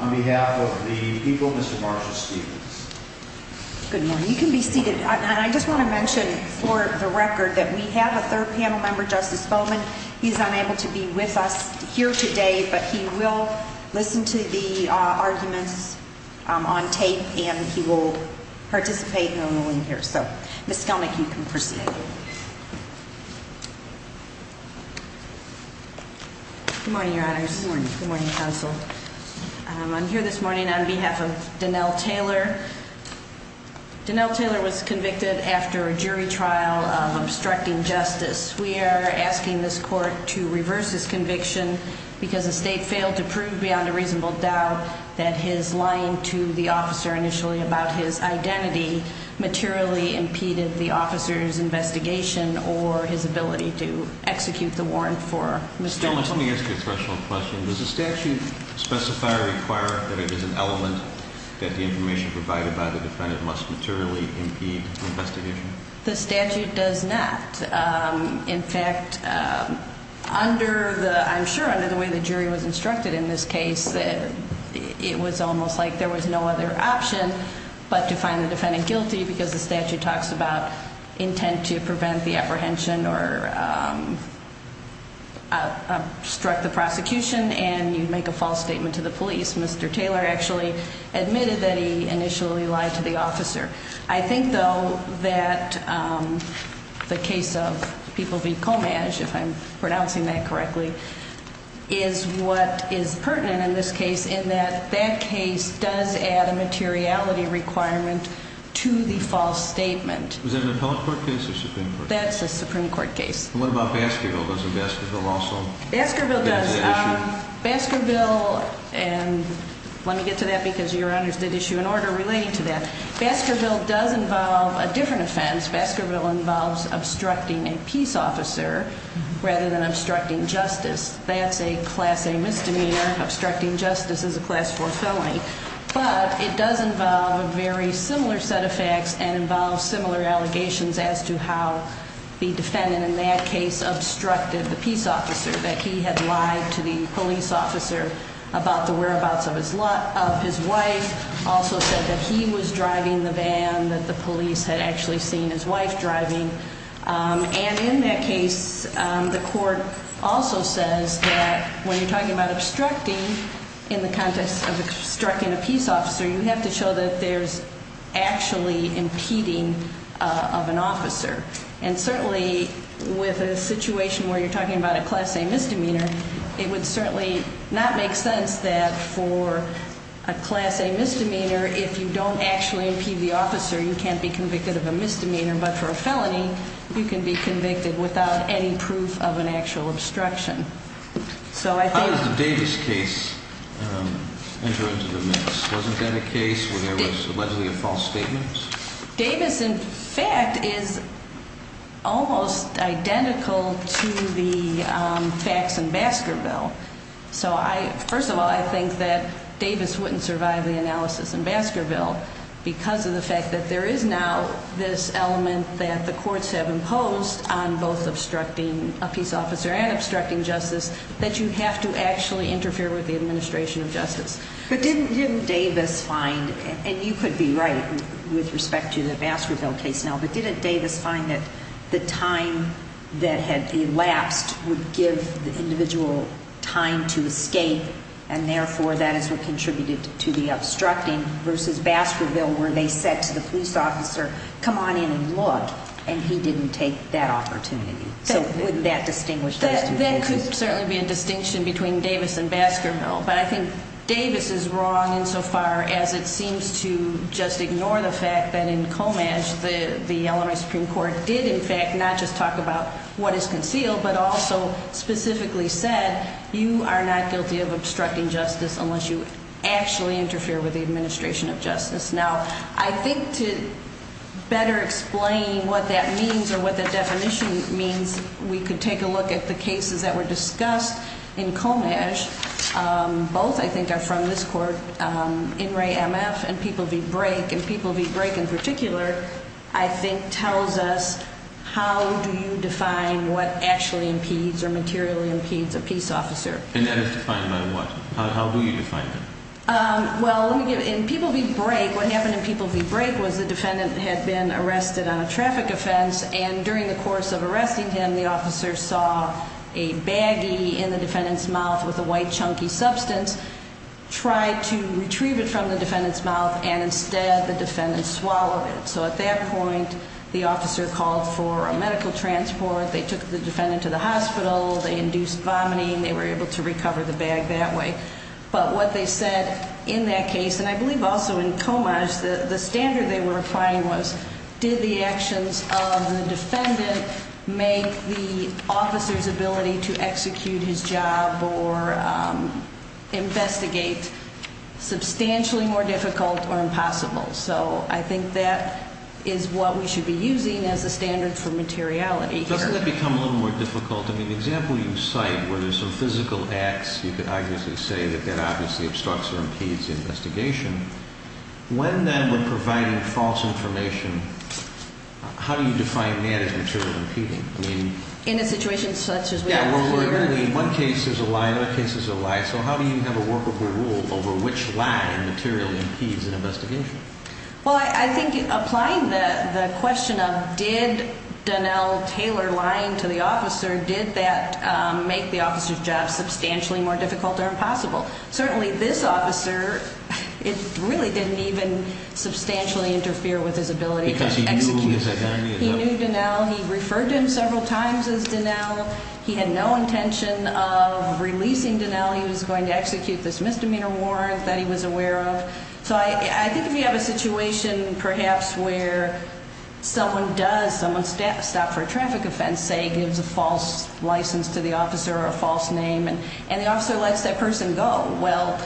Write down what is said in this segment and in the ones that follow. On behalf of the people, Mr. Marshall Stevens. Good morning. You can be seated. I just want to mention for the record that we have a third panel member, Justice Bowman. He's unable to be with us here today, but he will listen to the arguments on tape and he will participate normally here. So, Ms. Skelnick, you can proceed. Good morning, Your Honors. Good morning, Counsel. I'm here this morning on behalf of Donnell Taylor. Donnell Taylor was convicted after a jury trial of obstructing justice. We are asking this court to reverse his conviction because the state failed to prove beyond a reasonable doubt that his lying to the officer initially about his identity materially impeded the officer's investigation or his ability to execute the warrant for Mr. Taylor. Let me ask you a threshold question. Does the statute specify or require that it is an element that the information provided by the defendant must materially impede the investigation? The statute does not. In fact, I'm sure under the way the jury was instructed in this case, it was almost like there was no other option but to find the defendant guilty because the statute talks about intent to prevent the apprehension or obstruct the prosecution and you make a false statement to the police. Mr. Taylor actually admitted that he initially lied to the officer. I think, though, that the case of People v. Comage, if I'm pronouncing that correctly, is what is pertinent in this case in that that case does add a materiality requirement to the false statement. Was that an appellate court case or Supreme Court? That's a Supreme Court case. What about Baskerville? Doesn't Baskerville also? Baskerville does. Baskerville, and let me get to that because your honors did issue an order relating to that. Baskerville does involve a different offense. Baskerville involves obstructing a peace officer rather than obstructing justice. That's a class A misdemeanor. Obstructing justice is a class 4 felony. But it does involve a very similar set of facts and involves similar allegations as to how the defendant in that case obstructed the peace officer, that he had lied to the police officer about the whereabouts of his wife. Also said that he was driving the van that the police had actually seen his wife driving. And in that case, the court also says that when you're talking about obstructing in the context of obstructing a peace officer, you have to show that there's actually impeding of an officer. And certainly with a situation where you're talking about a class A misdemeanor, it would certainly not make sense that for a class A misdemeanor, if you don't actually impede the officer, you can't be convicted of a misdemeanor. But for a felony, you can be convicted without any proof of an actual obstruction. So I think... How does the Davis case enter into the mix? Wasn't that a case where there was allegedly a false statement? Davis, in fact, is almost identical to the facts in Baskerville. So first of all, I think that Davis wouldn't survive the analysis in Baskerville because of the fact that there is now this element that the courts have imposed on both obstructing a peace officer and obstructing justice, that you have to actually interfere with the administration of justice. But didn't Davis find, and you could be right with respect to the Baskerville case now, but didn't Davis find that the time that had elapsed would give the individual time to escape and therefore that is what contributed to the obstructing versus Baskerville where they said to the police officer, come on in and look, and he didn't take that opportunity. So wouldn't that distinguish those two cases? That could certainly be a distinction between Davis and Baskerville. But I think Davis is wrong insofar as it seems to just ignore the fact that in Comage, the Illinois Supreme Court did, in fact, not just talk about what is concealed, but also specifically said, you are not guilty of obstructing justice unless you actually interfere with the administration of justice. Now, I think to better explain what that means or what the definition means, we could take a look at the cases that were discussed in Comage. Both, I think, are from this court. In re MF and People v. Brake. And People v. Brake in particular, I think, tells us how do you define what actually impedes or materially impedes a peace officer. And that is defined by what? How do you define that? But what they said in that case, and I believe also in Comage, the standard they were applying was, did the actions of the defendant make the officer's ability to execute his job or investigate substantially more difficult or impossible? So I think that is what we should be using as a standard for materiality. Doesn't that become a little more difficult? I mean, the example you cite, where there's some physical acts, you could obviously say that that obviously obstructs or impedes the investigation. When, then, we're providing false information, how do you define that as material impeding? In a situation such as we have here? Yeah, where we're really, one case is a lie, another case is a lie. So how do you have a workable rule over which lie materially impedes an investigation? Well, I think applying the question of, did Donnell tailor lying to the officer, did that make the officer's job substantially more difficult or impossible? Certainly, this officer, it really didn't even substantially interfere with his ability to execute. Because he knew his identity. He knew Donnell. He referred to him several times as Donnell. He had no intention of releasing Donnell. He was going to execute this misdemeanor warrant that he was aware of. So I think if you have a situation, perhaps, where someone does, someone stops for a traffic offense, say, gives a false license to the officer or a false name, and the officer lets that person go, well,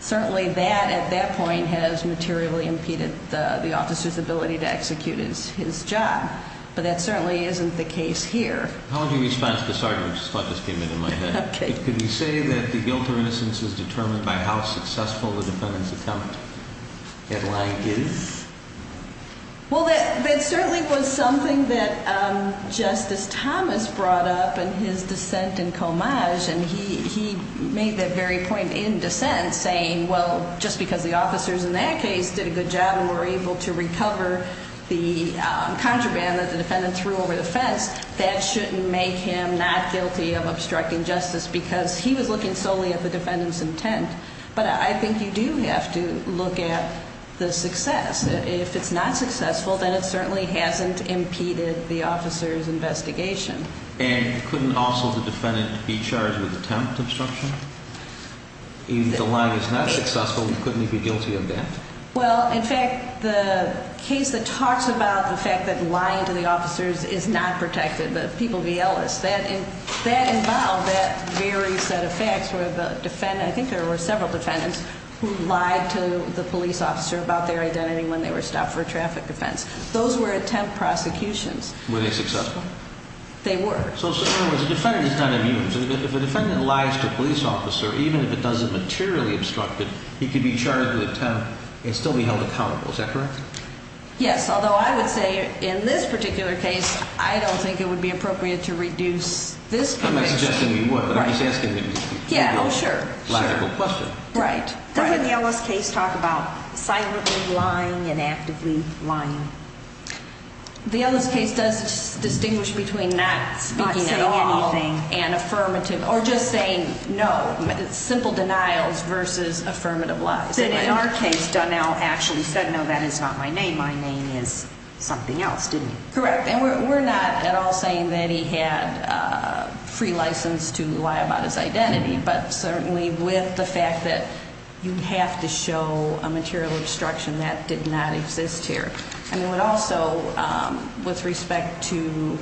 certainly that, at that point, has materially impeded the officer's ability to execute his job. But that certainly isn't the case here. How would you respond to this argument that just came into my head? Okay. Could you say that the guilt or innocence is determined by how successful the defendant's attempt at lying is? Well, that certainly was something that Justice Thomas brought up in his dissent in Comage. And he made that very point in dissent, saying, well, just because the officers in that case did a good job and were able to recover the contraband that the defendant threw over the fence, that shouldn't make him not guilty of obstructing justice because he was looking solely at the defendant's intent. But I think you do have to look at the success. If it's not successful, then it certainly hasn't impeded the officer's investigation. And couldn't also the defendant be charged with attempt obstruction? If the lying is not successful, couldn't he be guilty of that? Well, in fact, the case that talks about the fact that lying to the officers is not protected, the people v. Ellis, that involved that very set of facts where the defendant – I think there were several defendants who lied to the police officer about their identity when they were stopped for a traffic offense. Those were attempt prosecutions. Were they successful? They were. So in other words, the defendant is not immune. So if a defendant lies to a police officer, even if it doesn't materially obstruct it, he could be charged with attempt and still be held accountable. Is that correct? Yes, although I would say in this particular case, I don't think it would be appropriate to reduce this conviction. I'm not suggesting you would, but I'm just asking a logical question. Right. Doesn't the Ellis case talk about silently lying and actively lying? The Ellis case does distinguish between not speaking at all and affirmative or just saying no, simple denials versus affirmative lies. In our case, Donnell actually said, no, that is not my name. My name is something else, didn't he? Correct. And we're not at all saying that he had a free license to lie about his identity, but certainly with the fact that you have to show a material obstruction that did not exist here. And it would also, with respect to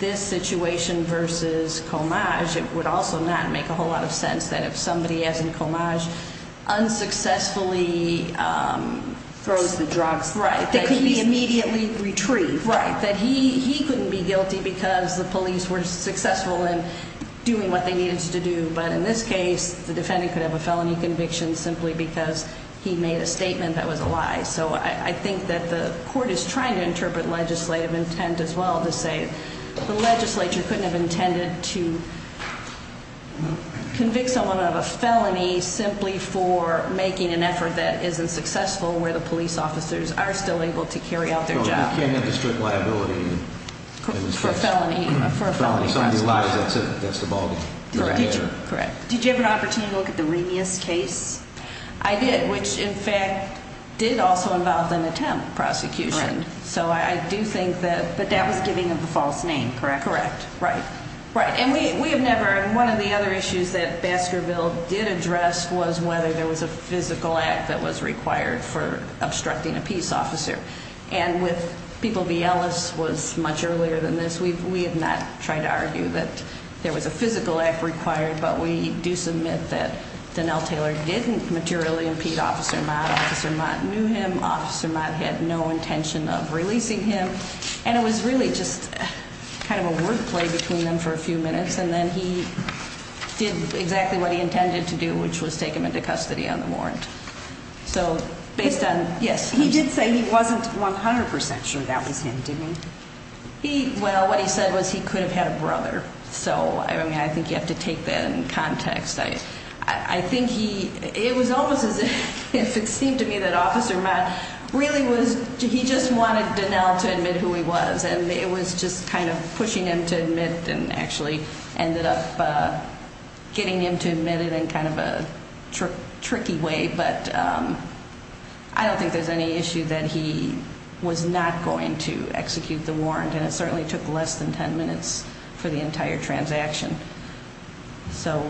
this situation versus Comage, it would also not make a whole lot of sense that if somebody, as in Comage, unsuccessfully throws the drugs that could be immediately retrieved. Right, that he couldn't be guilty because the police were successful in doing what they needed to do. But in this case, the defendant could have a felony conviction simply because he made a statement that was a lie. So I think that the court is trying to interpret legislative intent as well to say the legislature couldn't have intended to convict someone of a felony simply for making an effort that isn't successful where the police officers are still able to carry out their job. They can't make a strict liability in this case. For a felony. For a felony. Somebody lies, that's it. That's the ballgame. Correct. Correct. Did you have an opportunity to look at the Remus case? I did, which in fact did also involve an attempt prosecution. Right. So I do think that. But that was giving him the false name, correct? Correct. Right. Right. And we have never, and one of the other issues that Baskerville did address was whether there was a physical act that was required for obstructing a peace officer. And with people, V. Ellis was much earlier than this. We have not tried to argue that there was a physical act required, but we do submit that Donnell Taylor didn't materially impede Officer Mott. Officer Mott knew him. Officer Mott had no intention of releasing him. And it was really just kind of a word play between them for a few minutes. And then he did exactly what he intended to do, which was take him into custody on the warrant. So based on, yes. He did say he wasn't 100% sure that was him, didn't he? Well, what he said was he could have had a brother. So, I mean, I think you have to take that in context. I think he, it was almost as if it seemed to me that Officer Mott really was, he just wanted Donnell to admit who he was. And it was just kind of pushing him to admit and actually ended up getting him to admit it in kind of a tricky way. But I don't think there's any issue that he was not going to execute the warrant. And it certainly took less than 10 minutes for the entire transaction. So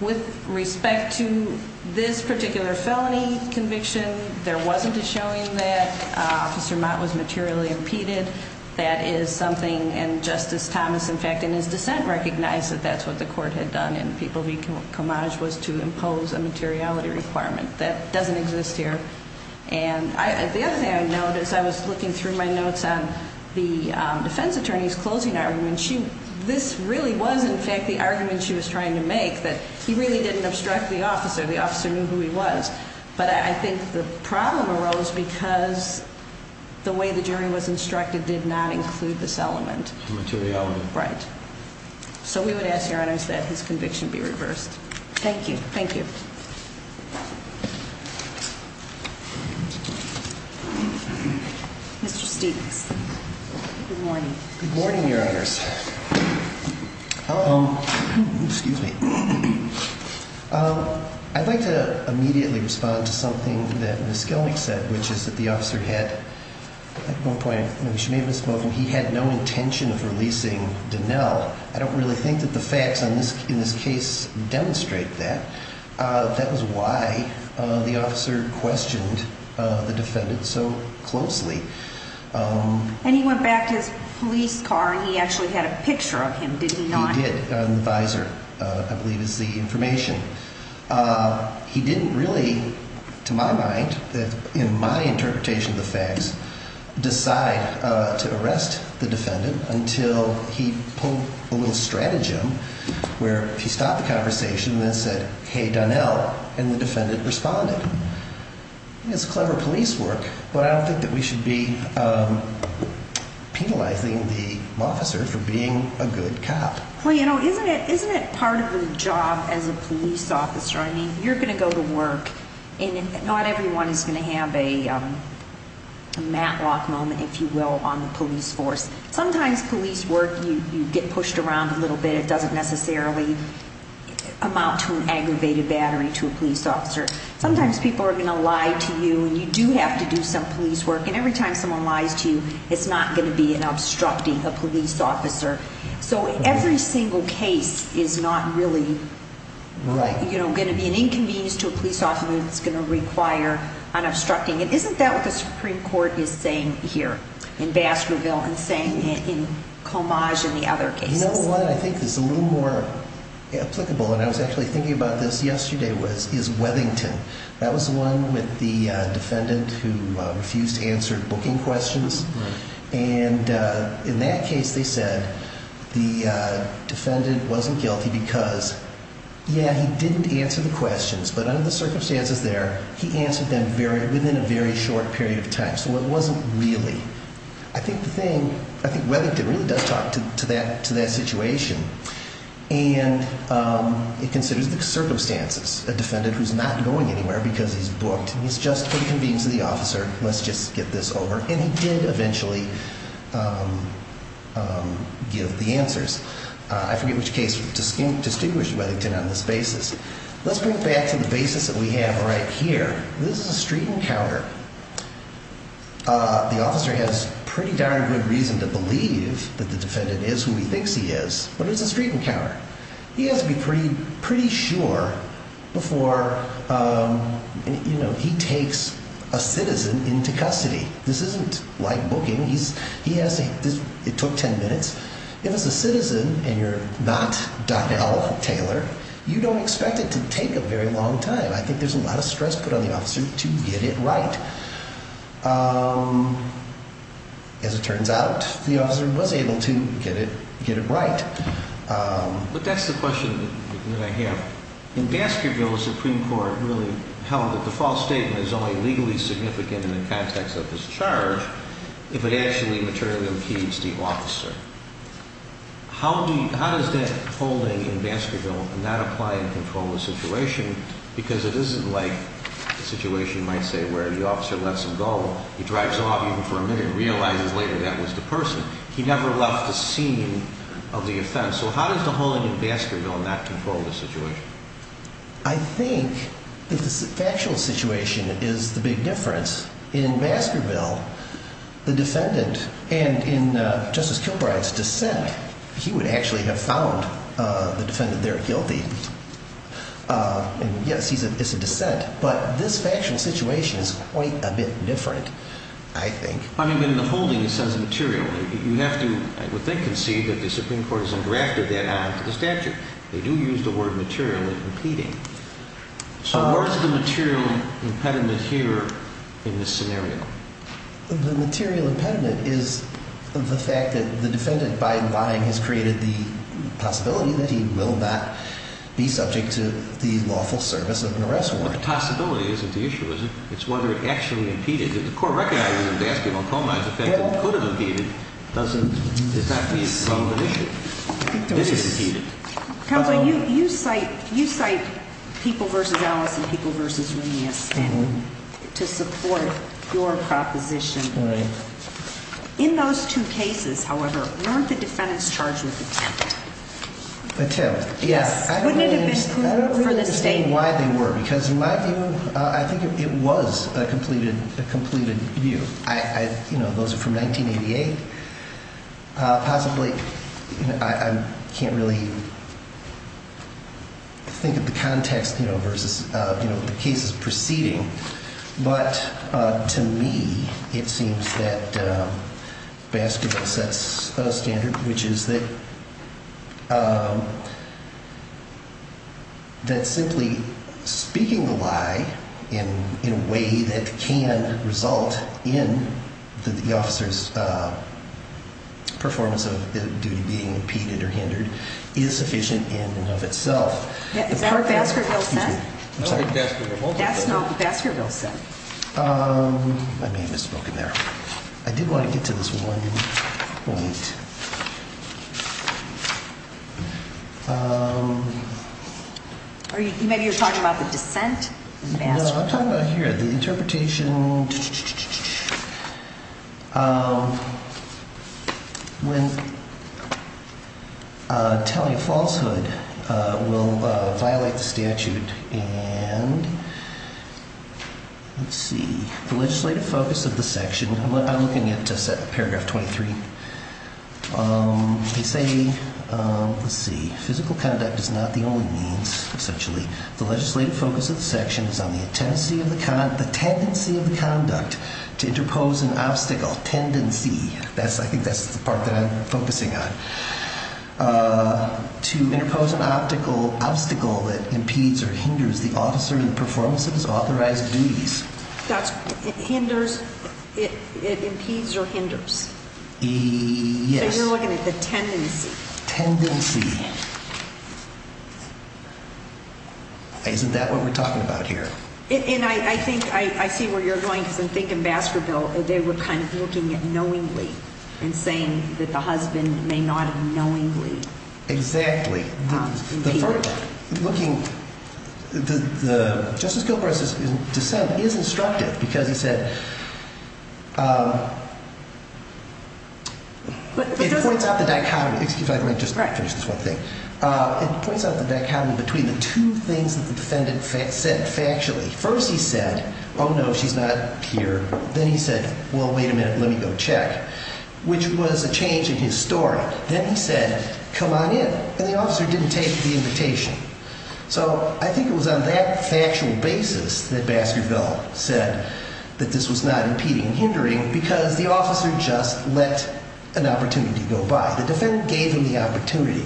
with respect to this particular felony conviction, there wasn't a showing that Officer Mott was materially impeded. That is something, and Justice Thomas, in fact, in his dissent, recognized that that's what the court had done. And People v. Comage was to impose a materiality requirement. That doesn't exist here. And the other thing I noticed, I was looking through my notes on the defense attorney's closing argument. This really was, in fact, the argument she was trying to make, that he really didn't obstruct the officer. The officer knew who he was. But I think the problem arose because the way the jury was instructed did not include this element. Materiality. Right. So we would ask, Your Honors, that his conviction be reversed. Thank you. Thank you. Mr. Steeves. Good morning. Good morning, Your Honors. Hello. Excuse me. I'd like to immediately respond to something that Ms. Gelnick said, which is that the officer had, at one point, he had no intention of releasing Donnell. I don't really think that the facts in this case demonstrate that. That was why the officer questioned the defendant so closely. And he went back to his police car, and he actually had a picture of him, did he not? He did. The visor, I believe, is the information. He didn't really, to my mind, in my interpretation of the facts, decide to arrest the defendant until he pulled a little stratagem where he stopped the conversation and then said, Hey, Donnell. And the defendant responded. It's clever police work, but I don't think that we should be penalizing the officer for being a good cop. Well, you know, isn't it part of the job as a police officer? I mean, you're going to go to work, and not everyone is going to have a Matlock moment, if you will, on the police force. Sometimes police work, you get pushed around a little bit. It doesn't necessarily amount to an aggravated battery to a police officer. Sometimes people are going to lie to you, and you do have to do some police work. And every time someone lies to you, it's not going to be in obstructing a police officer. So every single case is not really going to be an inconvenience to a police officer that's going to require unobstructing. Isn't that what the Supreme Court is saying here in Baskerville and saying in Comage and the other cases? You know what I think is a little more applicable, and I was actually thinking about this yesterday, is Webbington. That was the one with the defendant who refused to answer booking questions. And in that case, they said the defendant wasn't guilty because, yeah, he didn't answer the questions, but under the circumstances there, he answered them within a very short period of time. So it wasn't really. I think Webbington really does talk to that situation, and he considers the circumstances. A defendant who's not going anywhere because he's booked, and he's just going to convince the officer, let's just get this over. And he did eventually give the answers. I forget which case distinguished Webbington on this basis. Let's bring it back to the basis that we have right here. This is a street encounter. The officer has pretty darn good reason to believe that the defendant is who he thinks he is, but it's a street encounter. He has to be pretty sure before he takes a citizen into custody. This isn't like booking. It took 10 minutes. If it's a citizen and you're not Donnell Taylor, you don't expect it to take a very long time. I think there's a lot of stress put on the officer to get it right. As it turns out, the officer was able to get it right. But that's the question that I have. In Baskerville, the Supreme Court really held that the false statement is only legally significant in the context of this charge if it actually materially impedes the officer. How does that holding in Baskerville not apply and control the situation? Because it isn't like the situation, you might say, where the officer lets him go. He drives off even for a minute and realizes later that was the person. He never left the scene of the offense. So how does the holding in Baskerville not control the situation? I think the factual situation is the big difference. In Baskerville, the defendant and in Justice Kilbride's dissent, he would actually have found the defendant there guilty. And yes, it's a dissent. But this factual situation is quite a bit different, I think. I mean, in the holding, it says material. You have to, I would think, concede that the Supreme Court has engrafted that onto the statute. They do use the word material in repeating. So where is the material impediment here in this scenario? The material impediment is the fact that the defendant, by lying, has created the possibility that he will not be subject to the lawful service of an arrest warrant. The possibility isn't the issue, is it? It's whether it actually impeded. If the court recognizes in Baskerville Coma the fact that it could have impeded, does that mean it's not the issue? It is impeded. Counsel, you cite People v. Alice and People v. Remus to support your proposition. Right. In those two cases, however, weren't the defendants charged with attempted? Attempt, yeah. Wouldn't it have been proven for the state? I don't really understand why they were, because in my view, I think it was a completed view. Those are from 1988. Possibly, I can't really think of the context versus the cases preceding, but to me it seems that Baskerville sets a standard, which is that simply speaking a lie in a way that can result in the officer's performance of the duty being impeded or hindered is sufficient in and of itself. Is that what Baskerville said? That's not what Baskerville said. I may have misspoken there. I did want to get to this one point. Maybe you're talking about the dissent in Baskerville? No, I'm talking about here, the interpretation when telling a falsehood will violate the statute. Let's see. The legislative focus of the section, I'm looking at paragraph 23. They say, let's see, physical conduct is not the only means, essentially. The legislative focus of the section is on the tendency of the conduct to interpose an obstacle, tendency. I think that's the part that I'm focusing on. To interpose an obstacle that impedes or hinders the officer in the performance of his authorized duties. It impedes or hinders. Yes. So you're looking at the tendency. Tendency. Isn't that what we're talking about here? I see where you're going because I'm thinking Baskerville. They were kind of looking at knowingly and saying that the husband may not have knowingly impeded. Exactly. Justice Gilbreth's dissent is instructive because he said, it points out the dichotomy. Excuse me, I might just finish this one thing. It points out the dichotomy between the two things that the defendant said factually. First he said, oh no, she's not here. Then he said, well, wait a minute, let me go check. Which was a change in his story. Then he said, come on in. And the officer didn't take the invitation. So I think it was on that factual basis that Baskerville said that this was not impeding or hindering because the officer just let an opportunity go by. The defendant gave him the opportunity.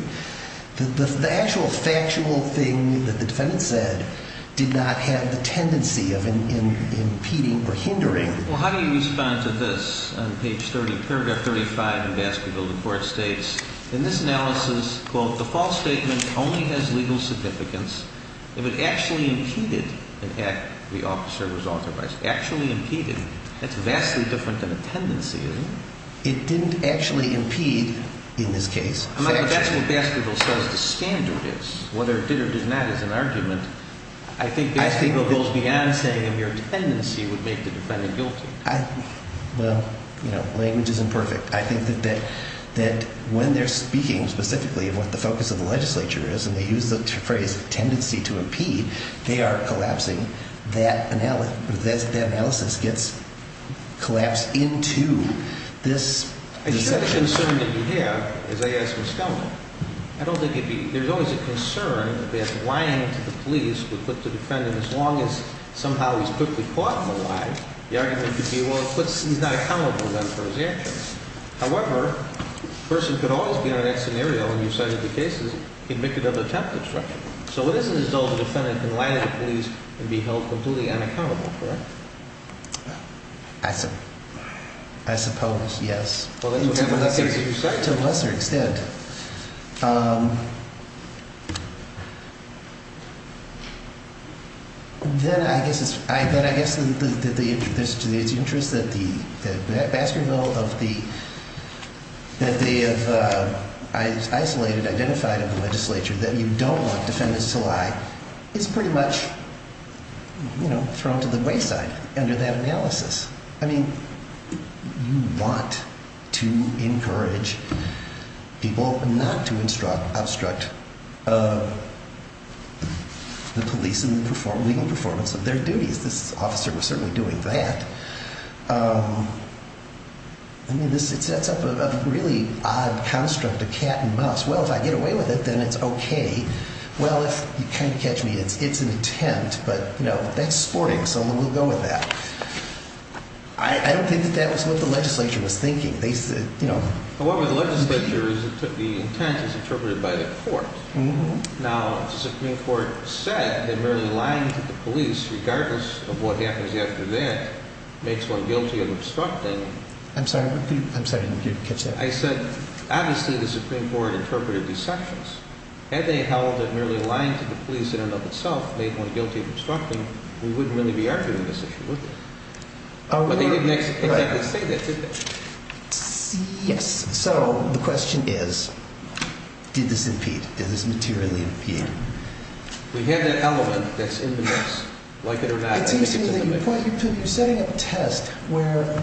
The actual factual thing that the defendant said did not have the tendency of impeding or hindering. Well, how do you respond to this? On page 30, paragraph 35 in Baskerville, the court states, in this analysis, quote, the false statement only has legal significance if it actually impeded an act the officer was authorized. Actually impeded. That's vastly different than a tendency, isn't it? It didn't actually impede in this case. But that's what Baskerville says the standard is. Whether it did or did not is an argument. I think Baskerville goes beyond saying a mere tendency would make the defendant guilty. Well, language isn't perfect. I think that when they're speaking specifically of what the focus of the legislature is and they use the phrase tendency to impede, they are collapsing. That analysis gets collapsed into this section. I think the concern that you have, as I asked Ms. Kellman, I don't think there's always a concern that lying to the police would put the defendant, as long as somehow he's quickly caught in the lie, the argument could be, well, he's not accountable then for his actions. However, the person could always be on that scenario when you cited the cases, convicted of attempted fraud. So what is it as though the defendant can lie to the police and be held completely unaccountable for it? I suppose, yes. To a lesser extent. Then I guess it's to the interest that Baskerville, that they have isolated, identified in the legislature, that you don't want defendants to lie. It's pretty much, you know, thrown to the wayside under that analysis. I mean, you want to encourage people not to obstruct the police in the legal performance of their duties. This officer was certainly doing that. I mean, it sets up a really odd construct, a cat and mouse. Well, if I get away with it, then it's okay. Well, if you can't catch me, it's an attempt. But, you know, that's sporting. Someone will go with that. I don't think that that was what the legislature was thinking. However, the legislature, the intent is interpreted by the court. Now, the Supreme Court said that merely lying to the police, regardless of what happens after that, makes one guilty of obstructing. I'm sorry, I didn't hear you catch that. I said, obviously the Supreme Court interpreted these sections. Had they held that merely lying to the police in and of itself made one guilty of obstructing, we wouldn't really be arguing this issue, would we? But they didn't exactly say that, did they? Yes. So the question is, did this impede? Did this materially impede? We have that element that's in the mix. Like it or not, I think it's in the mix. It seems to me that you're setting up a test where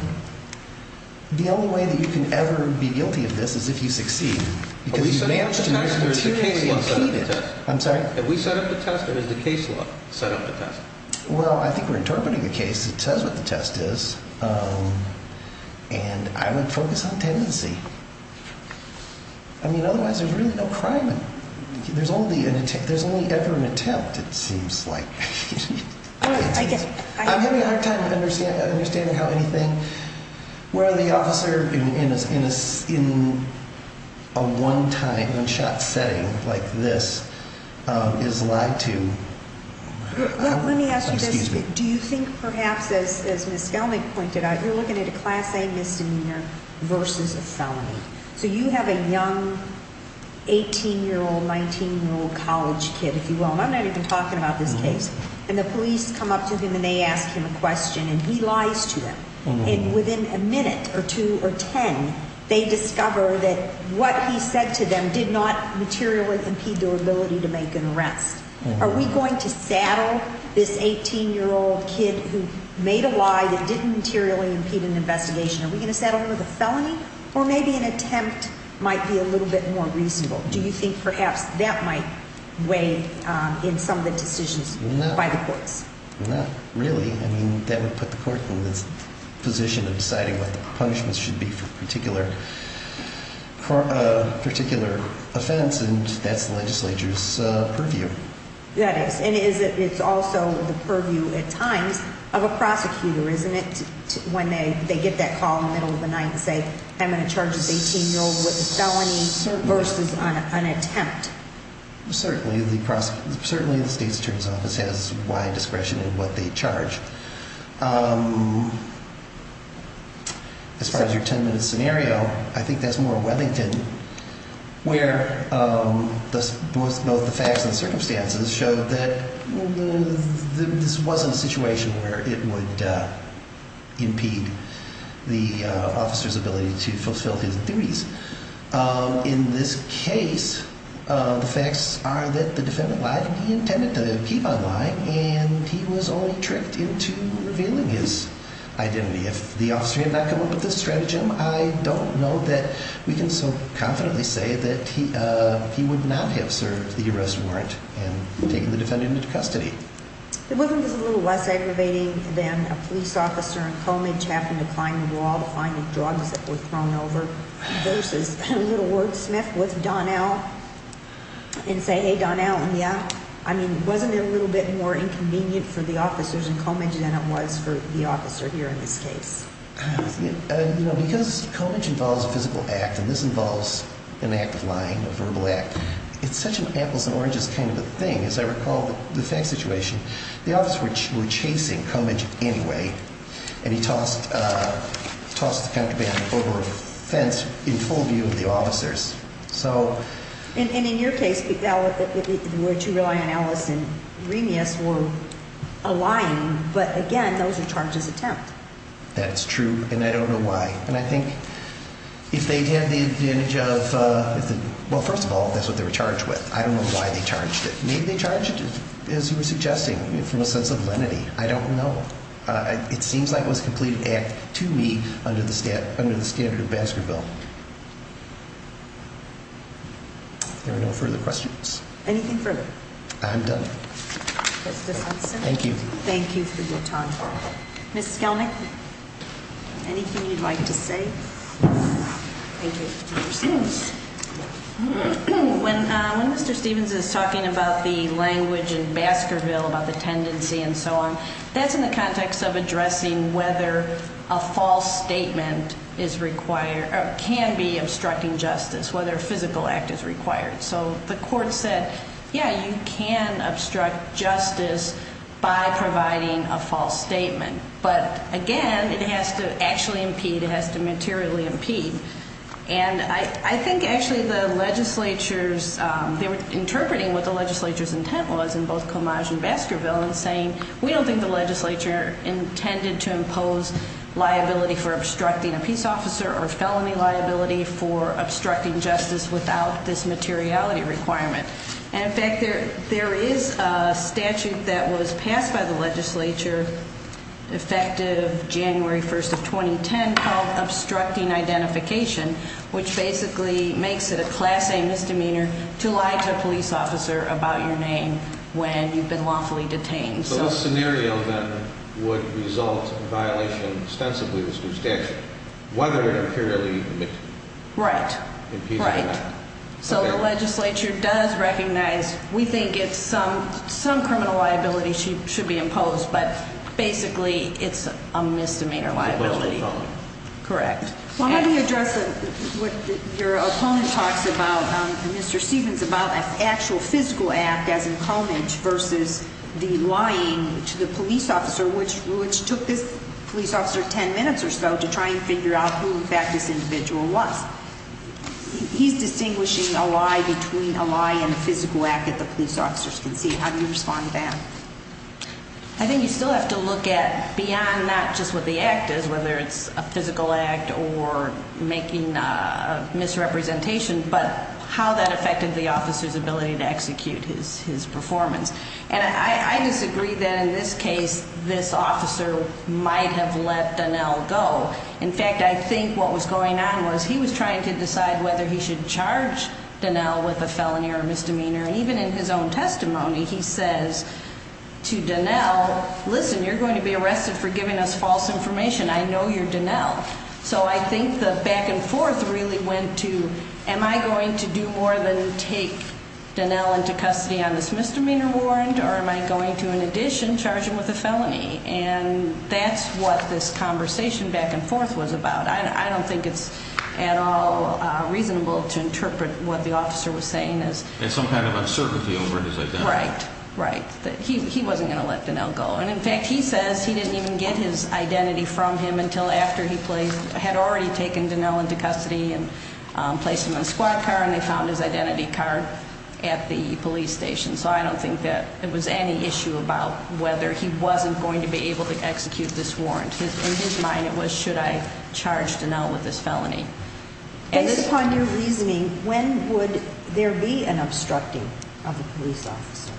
the only way that you can ever be guilty of this is if you succeed. Because you managed to materially impede it. I'm sorry? Did we set up the test or did the case law set up the test? Well, I think we're interpreting the case. It says what the test is. And I would focus on tendency. I mean, otherwise there's really no crime in it. There's only ever an attempt, it seems like. I'm having a hard time understanding how anything, where the officer in a one-shot setting like this is lied to. Let me ask you this. Do you think perhaps, as Ms. Skelnick pointed out, you're looking at a Class A misdemeanor versus a felony. So you have a young 18-year-old, 19-year-old college kid, if you will. And I'm not even talking about this case. And the police come up to him and they ask him a question and he lies to them. And within a minute or two or ten, they discover that what he said to them did not materially impede their ability to make an arrest. Are we going to saddle this 18-year-old kid who made a lie that didn't materially impede an investigation? Are we going to saddle him with a felony? Or maybe an attempt might be a little bit more reasonable. Do you think perhaps that might weigh in some of the decisions by the courts? Not really. I mean, that would put the court in this position of deciding what the punishments should be for a particular offense, and that's the legislature's purview. That is. And it's also the purview at times of a prosecutor, isn't it, when they get that call in the middle of the night and say, I'm going to charge this 18-year-old with a felony versus an attempt? Certainly the state's attorney's office has wide discretion in what they charge. As far as your ten-minute scenario, I think that's more a Webbington, where both the facts and circumstances show that this wasn't a situation where it would impede the officer's ability to fulfill his duties. In this case, the facts are that the defendant lied, and he intended to keep on lying, and he was only tricked into revealing his identity. If the officer had not come up with this stratagem, I don't know that we can so confidently say that he would not have served the arrest warrant and taken the defendant into custody. The woman was a little less aggravating than a police officer in Comidge having to climb the wall to find the drugs that were thrown over versus a little wordsmith with Donnell and say, hey, Donnell, and yeah. I mean, wasn't it a little bit more inconvenient for the officers in Comidge than it was for the officer here in this case? You know, because Comidge involves a physical act, and this involves an act of lying, a verbal act, it's such an apples-and-oranges kind of a thing. As I recall the defense situation, the officers were chasing Comidge anyway, and he tossed the counterband over a fence in full view of the officers. And in your case, the two relying on Ellis and Remus were lying, but again, those are charges of tempt. That's true, and I don't know why. And I think if they had the advantage of, well, first of all, that's what they were charged with. I don't know why they charged it. Maybe they charged it, as you were suggesting, from a sense of lenity. I don't know. It seems like it was a complete act to me under the standard of Baskerville. If there are no further questions. Anything further? I'm done. Thank you. Thank you for your time. Ms. Skelnick, anything you'd like to say? Thank you. When Mr. Stevens is talking about the language in Baskerville about the tendency and so on, that's in the context of addressing whether a false statement is required or can be obstructing justice, whether a physical act is required. So the court said, yeah, you can obstruct justice by providing a false statement, but, again, it has to actually impede, it has to materially impede. And I think actually the legislature's, they were interpreting what the legislature's intent was in both Comage and Baskerville in saying we don't think the legislature intended to impose liability for obstructing a peace officer or felony liability for obstructing justice without this materiality requirement. And, in fact, there is a statute that was passed by the legislature, effective January 1st of 2010, called Obstructing Identification, which basically makes it a Class A misdemeanor to lie to a police officer about your name when you've been lawfully detained. So this scenario, then, would result in violation ostensibly of this new statute, whether it imperially impedes or not. Right, right. So the legislature does recognize we think it's some criminal liability should be imposed, but basically it's a misdemeanor liability. Correct. Well, let me address what your opponent talks about, Mr. Stevens, about an actual physical act as in Comage versus the lying to the police officer, which took this police officer 10 minutes or so to try and figure out who, in fact, this individual was. He's distinguishing a lie between a lie and a physical act that the police officers can see. How do you respond to that? I think you still have to look at beyond not just what the act is, whether it's a physical act or making a misrepresentation, but how that affected the officer's ability to execute his performance. And I disagree that in this case this officer might have let Donnell go. In fact, I think what was going on was he was trying to decide whether he should charge Donnell with a felony or a misdemeanor, and even in his own testimony he says to Donnell, listen, you're going to be arrested for giving us false information. I know you're Donnell. So I think the back and forth really went to am I going to do more than take Donnell into custody on this misdemeanor warrant or am I going to, in addition, charge him with a felony? And that's what this conversation back and forth was about. I don't think it's at all reasonable to interpret what the officer was saying as As some kind of uncertainty over his identity. Right, right. He wasn't going to let Donnell go. And, in fact, he says he didn't even get his identity from him until after he had already taken Donnell into custody and placed him in a squad car and they found his identity card at the police station. So I don't think that it was any issue about whether he wasn't going to be able to execute this warrant. In his mind it was should I charge Donnell with this felony. Based upon your reasoning, when would there be an obstructing of a police officer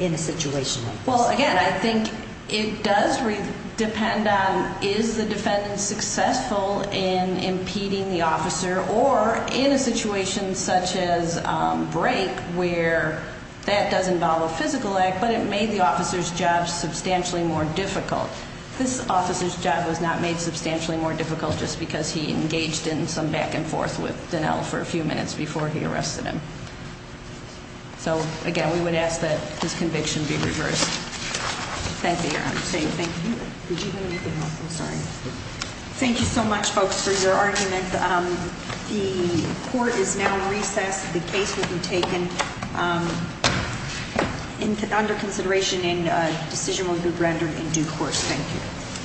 in a situation like this? Well, again, I think it does depend on is the defendant successful in impeding the officer or in a situation such as break where that does involve a physical act but it made the officer's job substantially more difficult. This officer's job was not made substantially more difficult just because he engaged in some back and forth with Donnell for a few minutes before he arrested him. So, again, we would ask that this conviction be reversed. Thank you, Your Honor. Thank you. Did you have anything else? I'm sorry. Thank you so much, folks, for your argument. The court is now in recess. The case will be taken under consideration and a decision will be rendered in due course. Thank you.